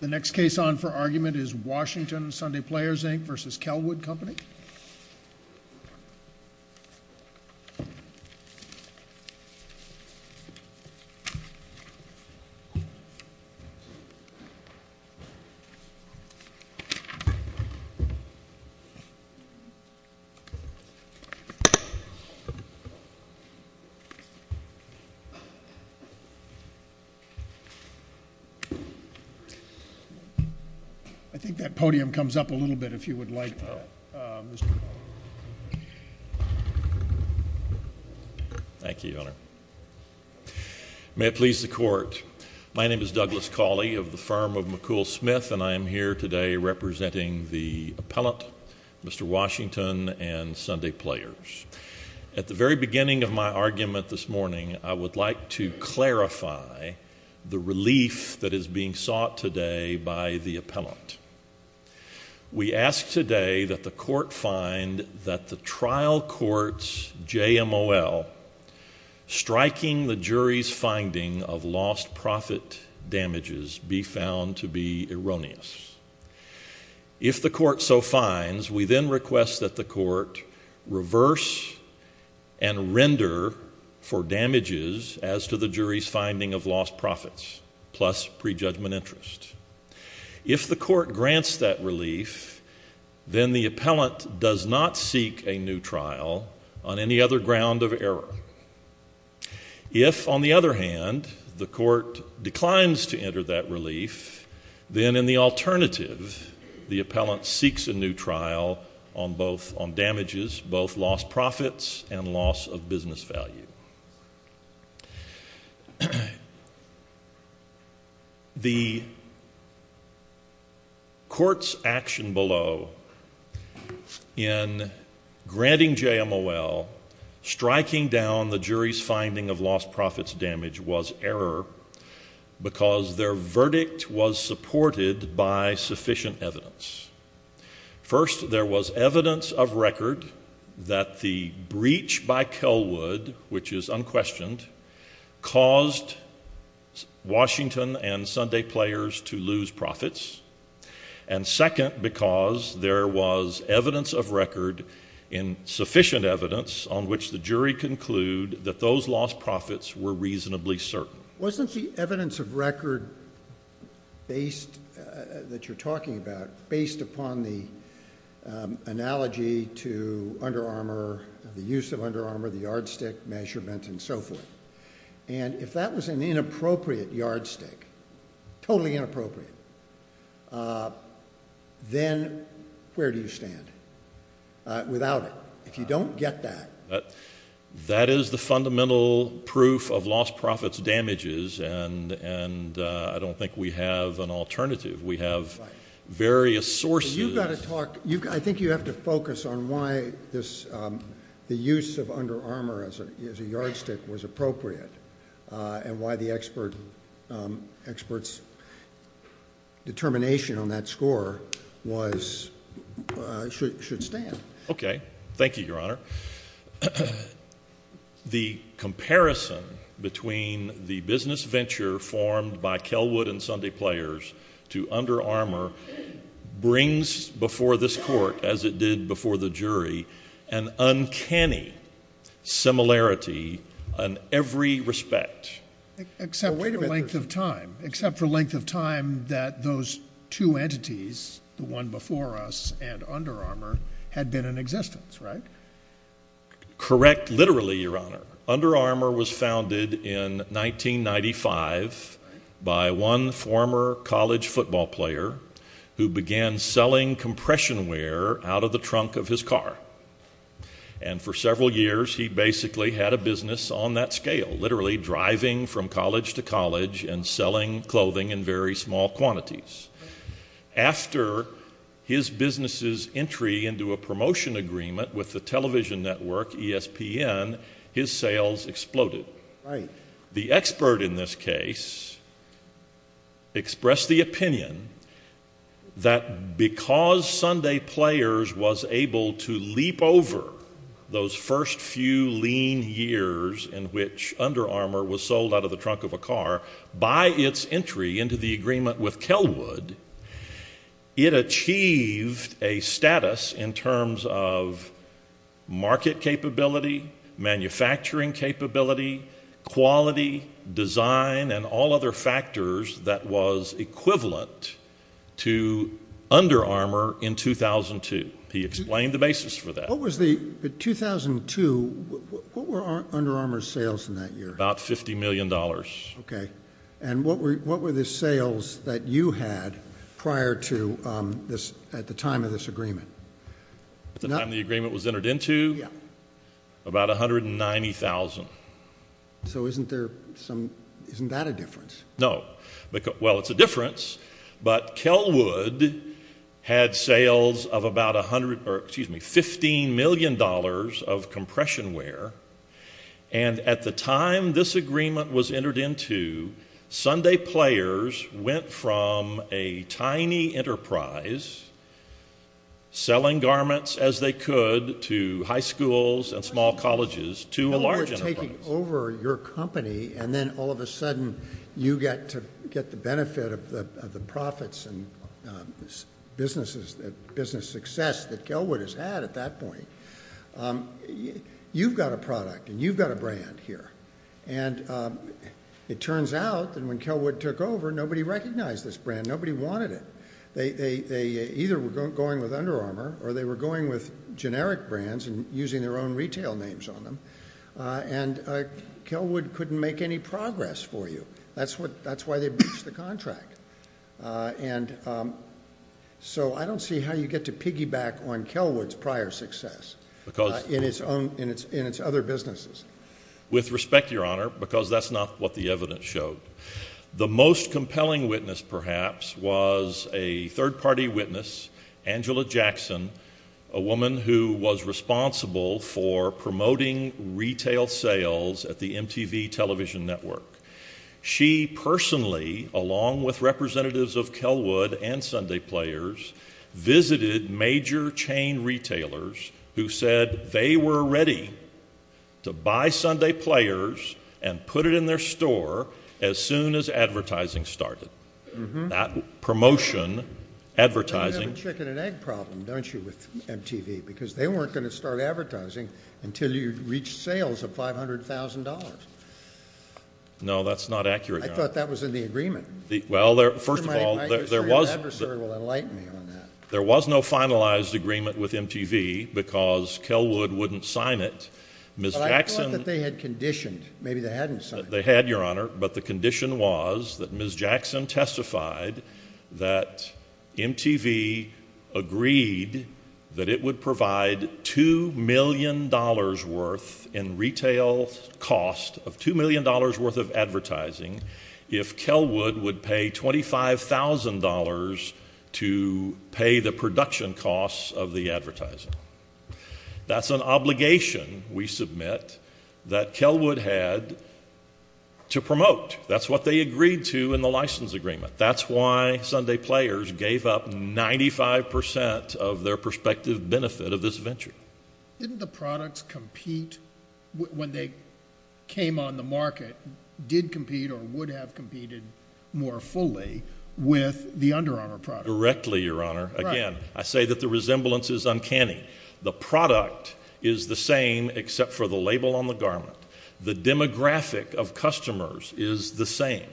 The next case on for argument is Washington Sunday Players, Inc. v. Kellwood Company. I think that podium comes up a little bit if you would like that. Thank you, Your Honor. May it please the Court. My name is Douglas Cauley of the firm of McCool Smith, and I am here today representing the appellant, Mr. Washington, and Sunday Players. At the very beginning of my argument this morning, I would like to clarify the relief that is being sought today by the appellant. We ask today that the Court find that the trial court's JMOL, striking the jury's finding of lost profit damages, be found to be erroneous. If the Court so finds, we then request that the Court reverse and render for damages as to the jury's finding of lost profits, plus prejudgment interest. If the Court grants that relief, then the appellant does not seek a new trial on any other ground of error. If, on the other hand, the Court declines to enter that relief, then in the alternative, the appellant seeks a new trial on damages, both lost profits and loss of business value. The Court's action below in granting JMOL, striking down the jury's finding of lost profits damage, was error because their verdict was supported by sufficient evidence. First, there was evidence of record that the breach by Kelwood, which is unquestioned, caused Washington and Sunday Players to lose profits. And second, because there was evidence of record, and sufficient evidence, on which the jury conclude that those lost profits were reasonably certain. Wasn't the evidence of record that you're talking about based upon the analogy to Under Armour, the use of Under Armour, the yardstick measurement, and so forth? And if that was an inappropriate yardstick, totally inappropriate, then where do you stand without it? If you don't get that. That is the fundamental proof of lost profits damages, and I don't think we have an alternative. We have various sources. You've got to talk. I think you have to focus on why the use of Under Armour as a yardstick was appropriate, and why the expert's determination on that score should stand. Okay. Thank you, Your Honor. The comparison between the business venture formed by Kelwood and Sunday Players to Under Armour brings before this court, as it did before the jury, an uncanny similarity on every respect. Except for length of time. Except for length of time that those two entities, the one before us and Under Armour, had been in existence, right? Correct, literally, Your Honor. Under Armour was founded in 1995 by one former college football player who began selling compression wear out of the trunk of his car. And for several years, he basically had a business on that scale, literally driving from college to college and selling clothing in very small quantities. After his business's entry into a promotion agreement with the television network ESPN, his sales exploded. The expert in this case expressed the opinion that because Sunday Players was able to leap over those first few lean years in which Under Armour was sold out of the trunk of a car, by its entry into the agreement with Kelwood, it achieved a status in terms of market capability, manufacturing capability, quality, design, and all other factors that was equivalent to Under Armour in 2002. He explained the basis for that. What was the, in 2002, what were Under Armour's sales in that year? About $50 million. Okay. And what were the sales that you had prior to this, at the time of this agreement? At the time the agreement was entered into? Yeah. About $190,000. So isn't there some, isn't that a difference? No. Well, it's a difference, but Kelwood had sales of about $15 million of compression wear, and at the time this agreement was entered into, Sunday Players went from a tiny enterprise, selling garments as they could to high schools and small colleges, to a large enterprise. So you're taking over your company, and then all of a sudden you get to get the benefit of the profits and business success that Kelwood has had at that point. You've got a product, and you've got a brand here. And it turns out that when Kelwood took over, nobody recognized this brand. Nobody wanted it. They either were going with Under Armour, or they were going with generic brands and using their own retail names on them, and Kelwood couldn't make any progress for you. That's why they breached the contract. And so I don't see how you get to piggyback on Kelwood's prior success in its other businesses. With respect, Your Honor, because that's not what the evidence showed. The most compelling witness, perhaps, was a third-party witness, Angela Jackson, a woman who was responsible for promoting retail sales at the MTV television network. She personally, along with representatives of Kelwood and Sunday Players, visited major chain retailers who said they were ready to buy Sunday Players and put it in their store as soon as advertising started. That promotion, advertising. You have a chicken and egg problem, don't you, with MTV? Because they weren't going to start advertising until you reached sales of $500,000. No, that's not accurate, Your Honor. I thought that was in the agreement. Well, first of all, there was no finalized agreement with MTV because Kelwood wouldn't sign it. But I thought that they had conditioned. Maybe they hadn't signed it. They had, Your Honor, but the condition was that Ms. Jackson testified that MTV agreed that it would provide $2 million worth in retail cost of $2 million worth of advertising if Kelwood would pay $25,000 to pay the production costs of the advertising. That's an obligation, we submit, that Kelwood had to promote. That's what they agreed to in the license agreement. That's why Sunday Players gave up 95% of their prospective benefit of this venture. Didn't the products compete when they came on the market, did compete or would have competed more fully with the Under Armour product? Again, I say that the resemblance is uncanny. The product is the same except for the label on the garment. The demographic of customers is the same.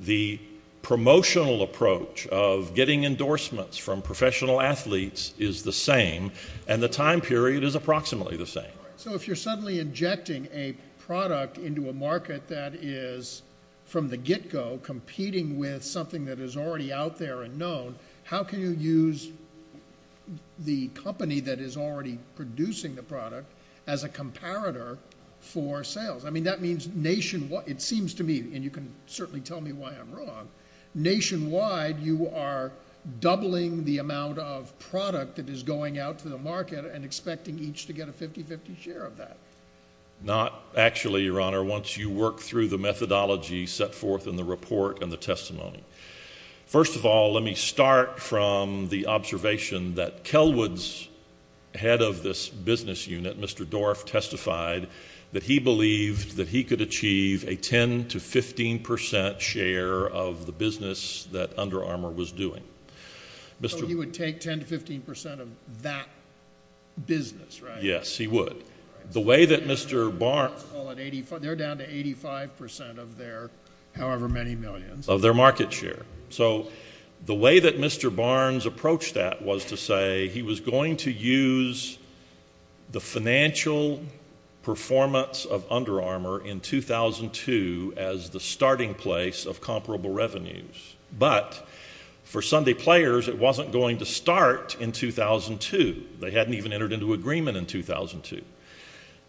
The promotional approach of getting endorsements from professional athletes is the same, and the time period is approximately the same. So if you're suddenly injecting a product into a market that is, from the get-go, competing with something that is already out there and known, how can you use the company that is already producing the product as a comparator for sales? I mean, that means nationwide—it seems to me, and you can certainly tell me why I'm wrong—nationwide, you are doubling the amount of product that is going out to the market and expecting each to get a 50-50 share of that. Not actually, Your Honor, once you work through the methodology set forth in the report and the testimony. First of all, let me start from the observation that Kelwood's head of this business unit, Mr. Dorff, testified that he believed that he could achieve a 10-15% share of the business that Under Armour was doing. So he would take 10-15% of that business, right? Yes, he would. They're down to 85% of their however many millions. Of their market share. So the way that Mr. Barnes approached that was to say he was going to use the financial performance of Under Armour in 2002 as the starting place of comparable revenues. But for Sunday players, it wasn't going to start in 2002. They hadn't even entered into agreement in 2002.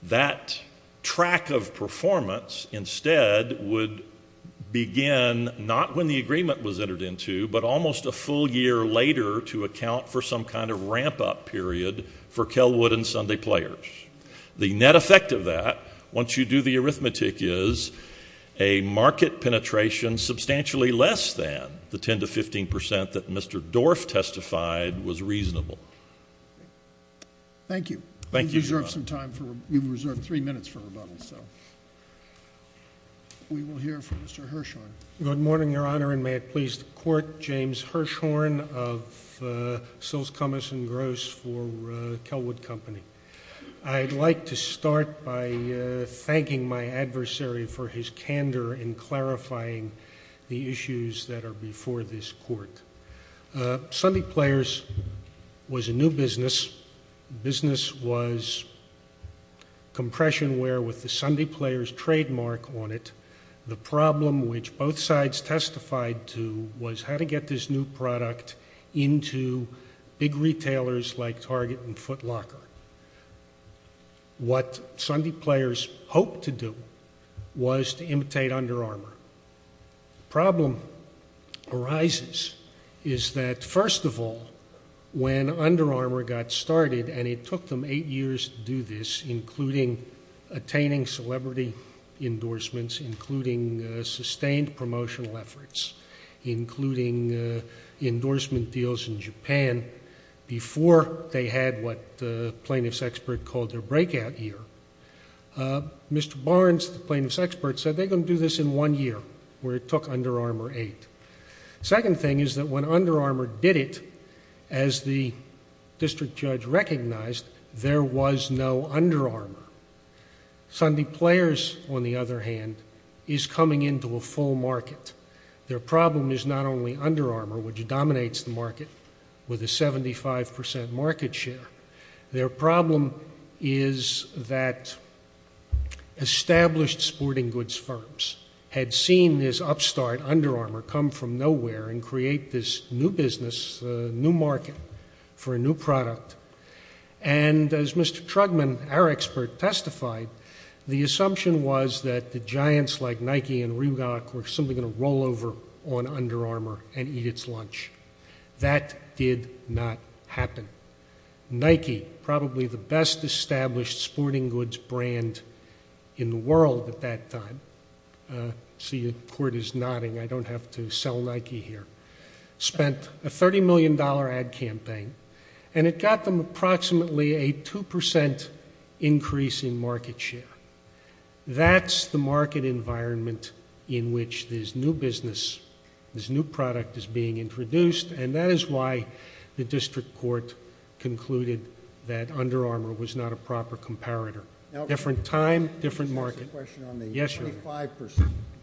That track of performance instead would begin not when the agreement was entered into, but almost a full year later to account for some kind of ramp-up period for Kelwood and Sunday players. The net effect of that, once you do the arithmetic, is a market penetration substantially less than the 10-15% that Mr. Dorff testified was reasonable. Thank you. Thank you, Your Honor. We've reserved three minutes for rebuttal, so we will hear from Mr. Hirshhorn. Good morning, Your Honor, and may it please the court, James Hirshhorn of Sills, Cummins & Gross for Kelwood Company. I'd like to start by thanking my adversary for his candor in clarifying the issues that are before this court. Sunday players was a new business. The business was compression wear with the Sunday players trademark on it. The problem, which both sides testified to, was how to get this new product into big retailers like Target and Foot Locker. What Sunday players hoped to do was to imitate Under Armour. The problem arises is that, first of all, when Under Armour got started, and it took them eight years to do this, including attaining celebrity endorsements, including sustained promotional efforts, including endorsement deals in Japan, before they had what the plaintiff's expert called their breakout year, Mr. Barnes, the plaintiff's expert, said they're going to do this in one year, where it took Under Armour eight. Second thing is that when Under Armour did it, as the district judge recognized, there was no Under Armour. Sunday players, on the other hand, is coming into a full market. Their problem is not only Under Armour, which dominates the market with a 75% market share. Their problem is that established sporting goods firms had seen this upstart, Under Armour, come from nowhere and create this new business, new market, for a new product. And as Mr. Trugman, our expert, testified, the assumption was that the giants like Nike and Rilakku were simply going to roll over on Under Armour and eat its lunch. That did not happen. Nike, probably the best established sporting goods brand in the world at that time, see, the court is nodding, I don't have to sell Nike here, spent a $30 million ad campaign, and it got them approximately a 2% increase in market share. That's the market environment in which this new business, this new product is being introduced, and that is why the district court concluded that Under Armour was not a proper comparator. Different time, different market. Yes, sir. You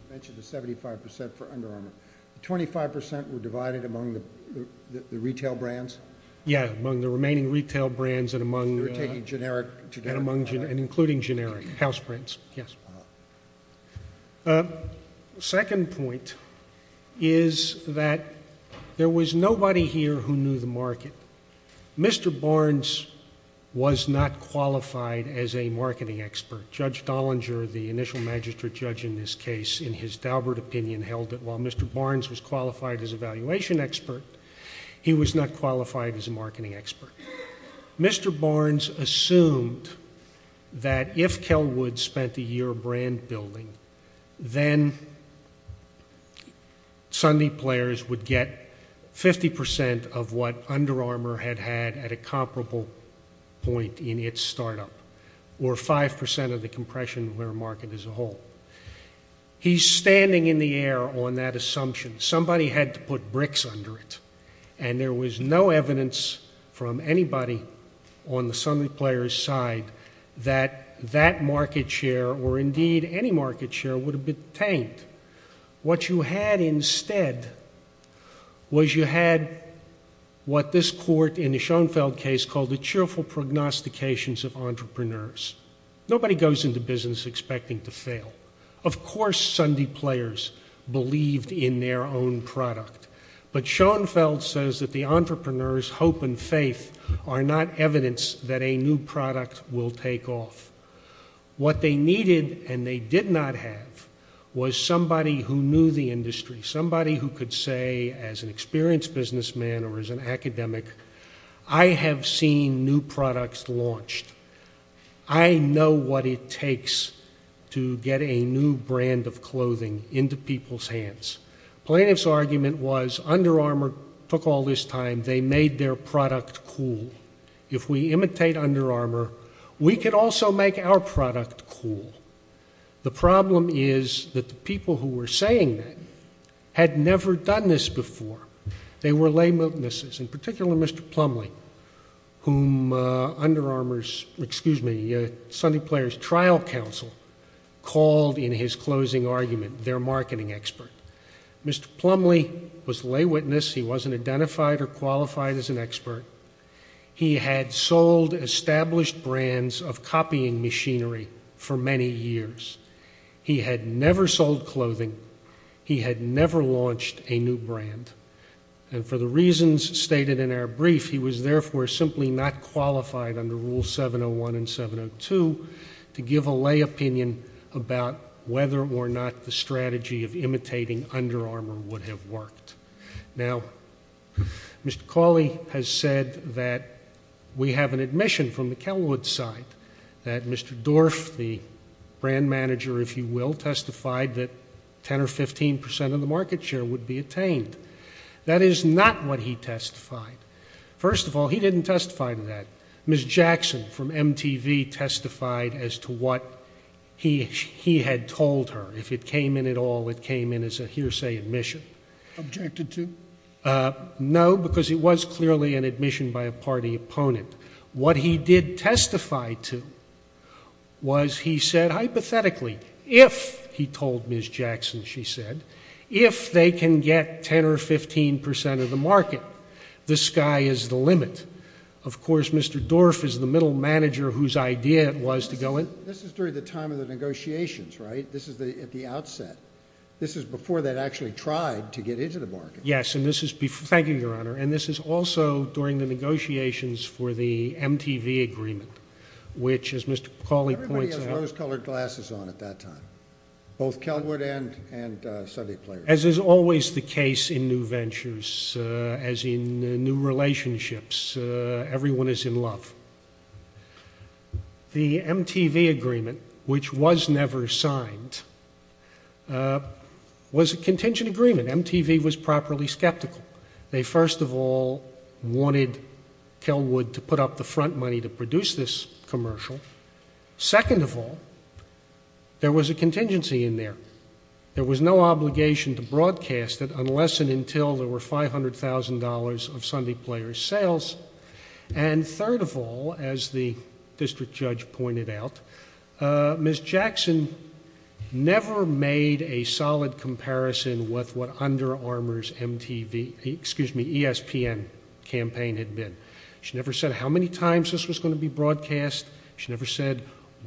mentioned the 75% for Under Armour. The 25% were divided among the retail brands? Yes, among the remaining retail brands and including generic house brands, yes. The second point is that there was nobody here who knew the market. Mr. Barnes was not qualified as a marketing expert. Judge Dollinger, the initial magistrate judge in this case, in his Daubert opinion, held that while Mr. Barnes was qualified as a valuation expert, he was not qualified as a marketing expert. Mr. Barnes assumed that if Kelwood spent a year brand building, then Sunday players would get 50% of what Under Armour had had at a comparable point in its startup or 5% of the compression of their market as a whole. He's standing in the air on that assumption. Somebody had to put bricks under it, and there was no evidence from anybody on the Sunday players' side that that market share or indeed any market share would have been tanked. What you had instead was you had what this court in the Schoenfeld case called the cheerful prognostications of entrepreneurs. Nobody goes into business expecting to fail. Of course Sunday players believed in their own product, but Schoenfeld says that the entrepreneurs' hope and faith are not evidence that a new product will take off. What they needed and they did not have was somebody who knew the industry, somebody who could say as an experienced businessman or as an academic, I have seen new products launched. I know what it takes to get a new brand of clothing into people's hands. Plaintiff's argument was Under Armour took all this time. They made their product cool. If we imitate Under Armour, we could also make our product cool. The problem is that the people who were saying that had never done this before. They were lay witnesses, in particular Mr. Plumlee, whom Sunday players' trial counsel called in his closing argument their marketing expert. Mr. Plumlee was a lay witness. He wasn't identified or qualified as an expert. He had sold established brands of copying machinery for many years. He had never sold clothing. He had never launched a new brand. And for the reasons stated in our brief, he was therefore simply not qualified under Rule 701 and 702 to give a lay opinion about whether or not the strategy of imitating Under Armour would have worked. Now, Mr. Cawley has said that we have an admission from the Kelwood side that Mr. Dorff, the brand manager, if you will, testified that 10 or 15 percent of the market share would be attained. That is not what he testified. First of all, he didn't testify to that. Ms. Jackson from MTV testified as to what he had told her. If it came in at all, it came in as a hearsay admission. Objected to? No, because it was clearly an admission by a party opponent. What he did testify to was he said hypothetically, if he told Ms. Jackson, she said, if they can get 10 or 15 percent of the market, the sky is the limit. Of course, Mr. Dorff is the middle manager whose idea it was to go in. This is during the time of the negotiations, right? This is at the outset. This is before they'd actually tried to get into the market. Yes, and this is before. Thank you, Your Honor. And this is also during the negotiations for the MTV agreement, which, as Mr. Cawley points out. Everybody has rose-colored glasses on at that time, both Kelwood and Sunday Players. As is always the case in new ventures, as in new relationships, everyone is in love. The MTV agreement, which was never signed, was a contingent agreement. MTV was properly skeptical. They, first of all, wanted Kelwood to put up the front money to produce this commercial. Second of all, there was a contingency in there. There was no obligation to broadcast it unless and until there were $500,000 of Sunday Players sales. And third of all, as the district judge pointed out, Ms. Jackson never made a solid comparison with what Under Armour's ESPN campaign had been. She never said how many times this was going to be broadcast. She never said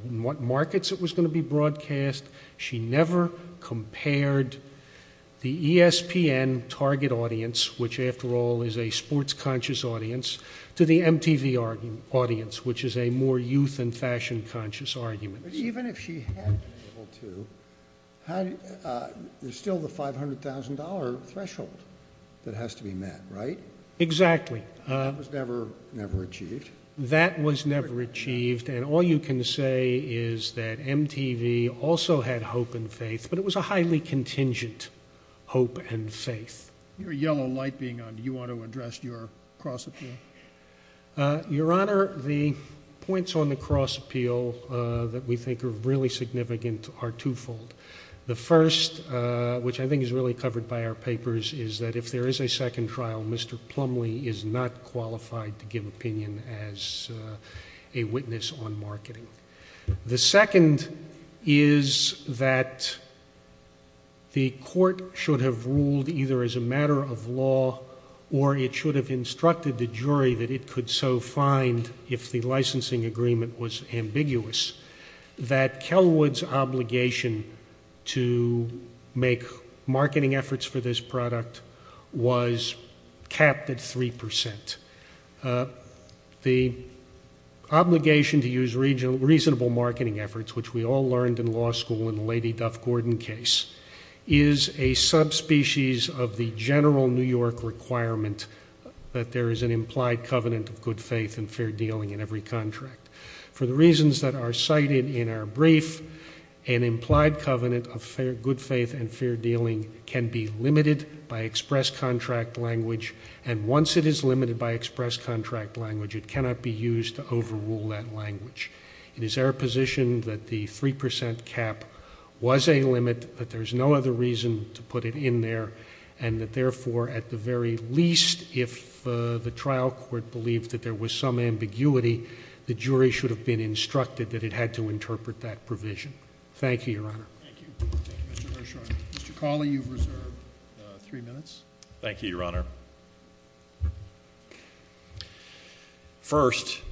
what markets it was going to be broadcast. She never compared the ESPN target audience, which, after all, is a sports-conscious audience, to the MTV audience, which is a more youth and fashion-conscious audience. Even if she had been able to, there's still the $500,000 threshold that has to be met, right? Exactly. That was never achieved. That was never achieved. And all you can say is that MTV also had hope and faith, but it was a highly contingent hope and faith. Your yellow light being on, do you want to address your cross-appeal? Your Honor, the points on the cross-appeal that we think are really significant are twofold. The first, which I think is really covered by our papers, is that if there is a second trial, Mr. Plumlee is not qualified to give opinion as a witness on marketing. The second is that the court should have ruled either as a matter of law or it should have instructed the jury that it could so find if the licensing agreement was ambiguous, that Kelwood's obligation to make marketing efforts for this product was capped at 3%. The obligation to use reasonable marketing efforts, which we all learned in law school in the Lady Duff-Gordon case, is a subspecies of the general New York requirement that there is an implied covenant of good faith and fair dealing in every contract. For the reasons that are cited in our brief, an implied covenant of good faith and fair dealing can be limited by express contract language, and once it is limited by express contract language, it cannot be used to overrule that language. It is our position that the 3% cap was a limit, that there is no other reason to put it in there, and that therefore, at the very least, if the trial court believed that there was some ambiguity, the jury should have been instructed that it had to interpret that provision. Thank you, Your Honor. Thank you. Thank you, Mr. Hirshhorn. Mr. Cawley, you've reserved three minutes. Thank you, Your Honor. First,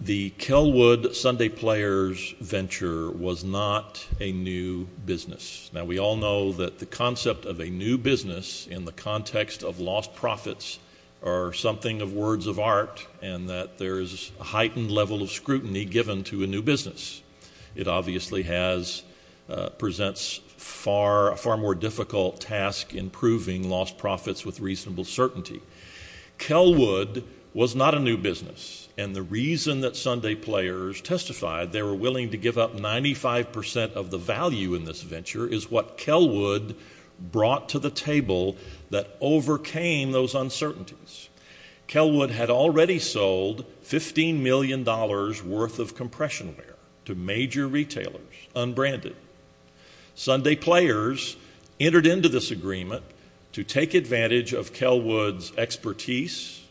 the Kelwood Sunday Players venture was not a new business. Now, we all know that the concept of a new business in the context of lost profits are something of words of art and that there is a heightened level of scrutiny given to a new business. It obviously presents a far more difficult task in proving lost profits with reasonable certainty. Kelwood was not a new business, and the reason that Sunday Players testified they were willing to give up 95% of the value in this venture is what Kelwood brought to the table that overcame those uncertainties. Kelwood had already sold $15 million worth of compression wear to major retailers, unbranded. Sunday Players entered into this agreement to take advantage of Kelwood's expertise,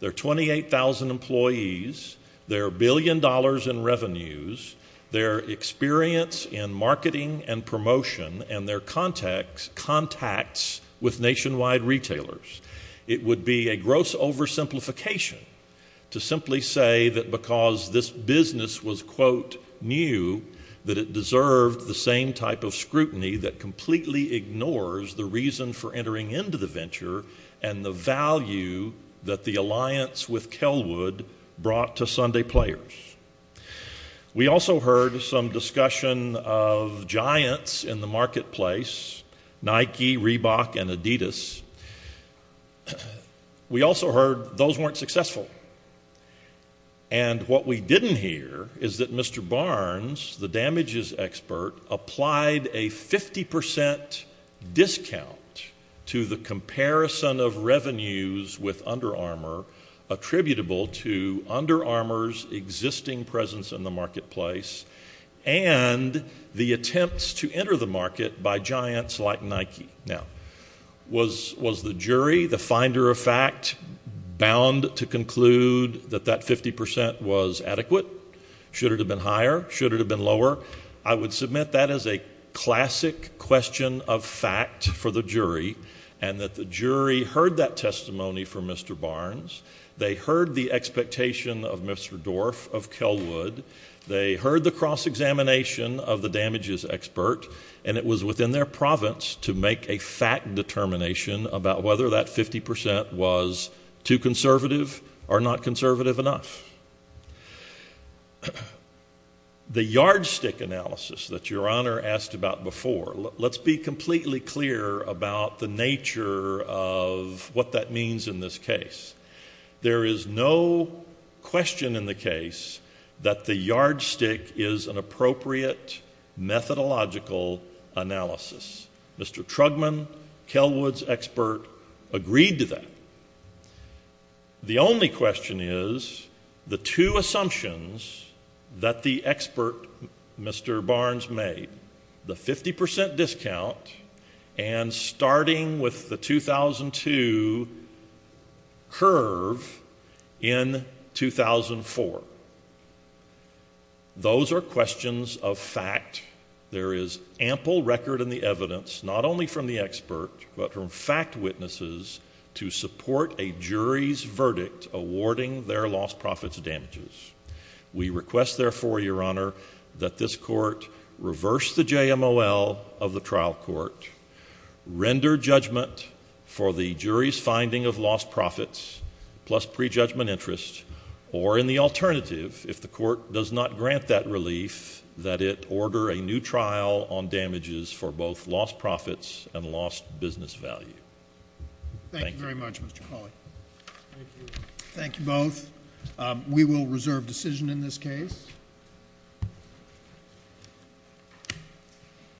their 28,000 employees, their billion dollars in revenues, their experience in marketing and promotion, and their contacts with nationwide retailers. It would be a gross oversimplification to simply say that because this business was, quote, new that it deserved the same type of scrutiny that completely ignores the reason for entering into the venture and the value that the alliance with Kelwood brought to Sunday Players. We also heard some discussion of giants in the marketplace, Nike, Reebok, and Adidas, we also heard those weren't successful. And what we didn't hear is that Mr. Barnes, the damages expert, applied a 50% discount to the comparison of revenues with Under Armour attributable to Under Armour's existing presence in the marketplace and the attempts to enter the market by giants like Nike. Now, was the jury, the finder of fact, bound to conclude that that 50% was adequate? Should it have been higher? Should it have been lower? I would submit that as a classic question of fact for the jury and that the jury heard that testimony from Mr. Barnes, they heard the expectation of Mr. Dorff of Kelwood, they heard the cross-examination of the damages expert, and it was within their province to make a fact determination about whether that 50% was too conservative or not conservative enough. The yardstick analysis that Your Honor asked about before, let's be completely clear about the nature of what that means in this case. There is no question in the case that the yardstick is an appropriate methodological analysis. Mr. Trugman, Kelwood's expert, agreed to that. The only question is the two assumptions that the expert, Mr. Barnes, made, the 50% discount and starting with the 2002 curve in 2004. Those are questions of fact. There is ample record in the evidence, not only from the expert, but from fact witnesses to support a jury's verdict awarding their lost profits damages. We request therefore, Your Honor, that this court reverse the JMOL of the trial court, render judgment for the jury's finding of lost profits plus prejudgment interest, or in the alternative, if the court does not grant that relief, that it order a new trial on damages for both lost profits and lost business value. Thank you very much, Mr. Cawley. Thank you both. We will reserve decision in this case.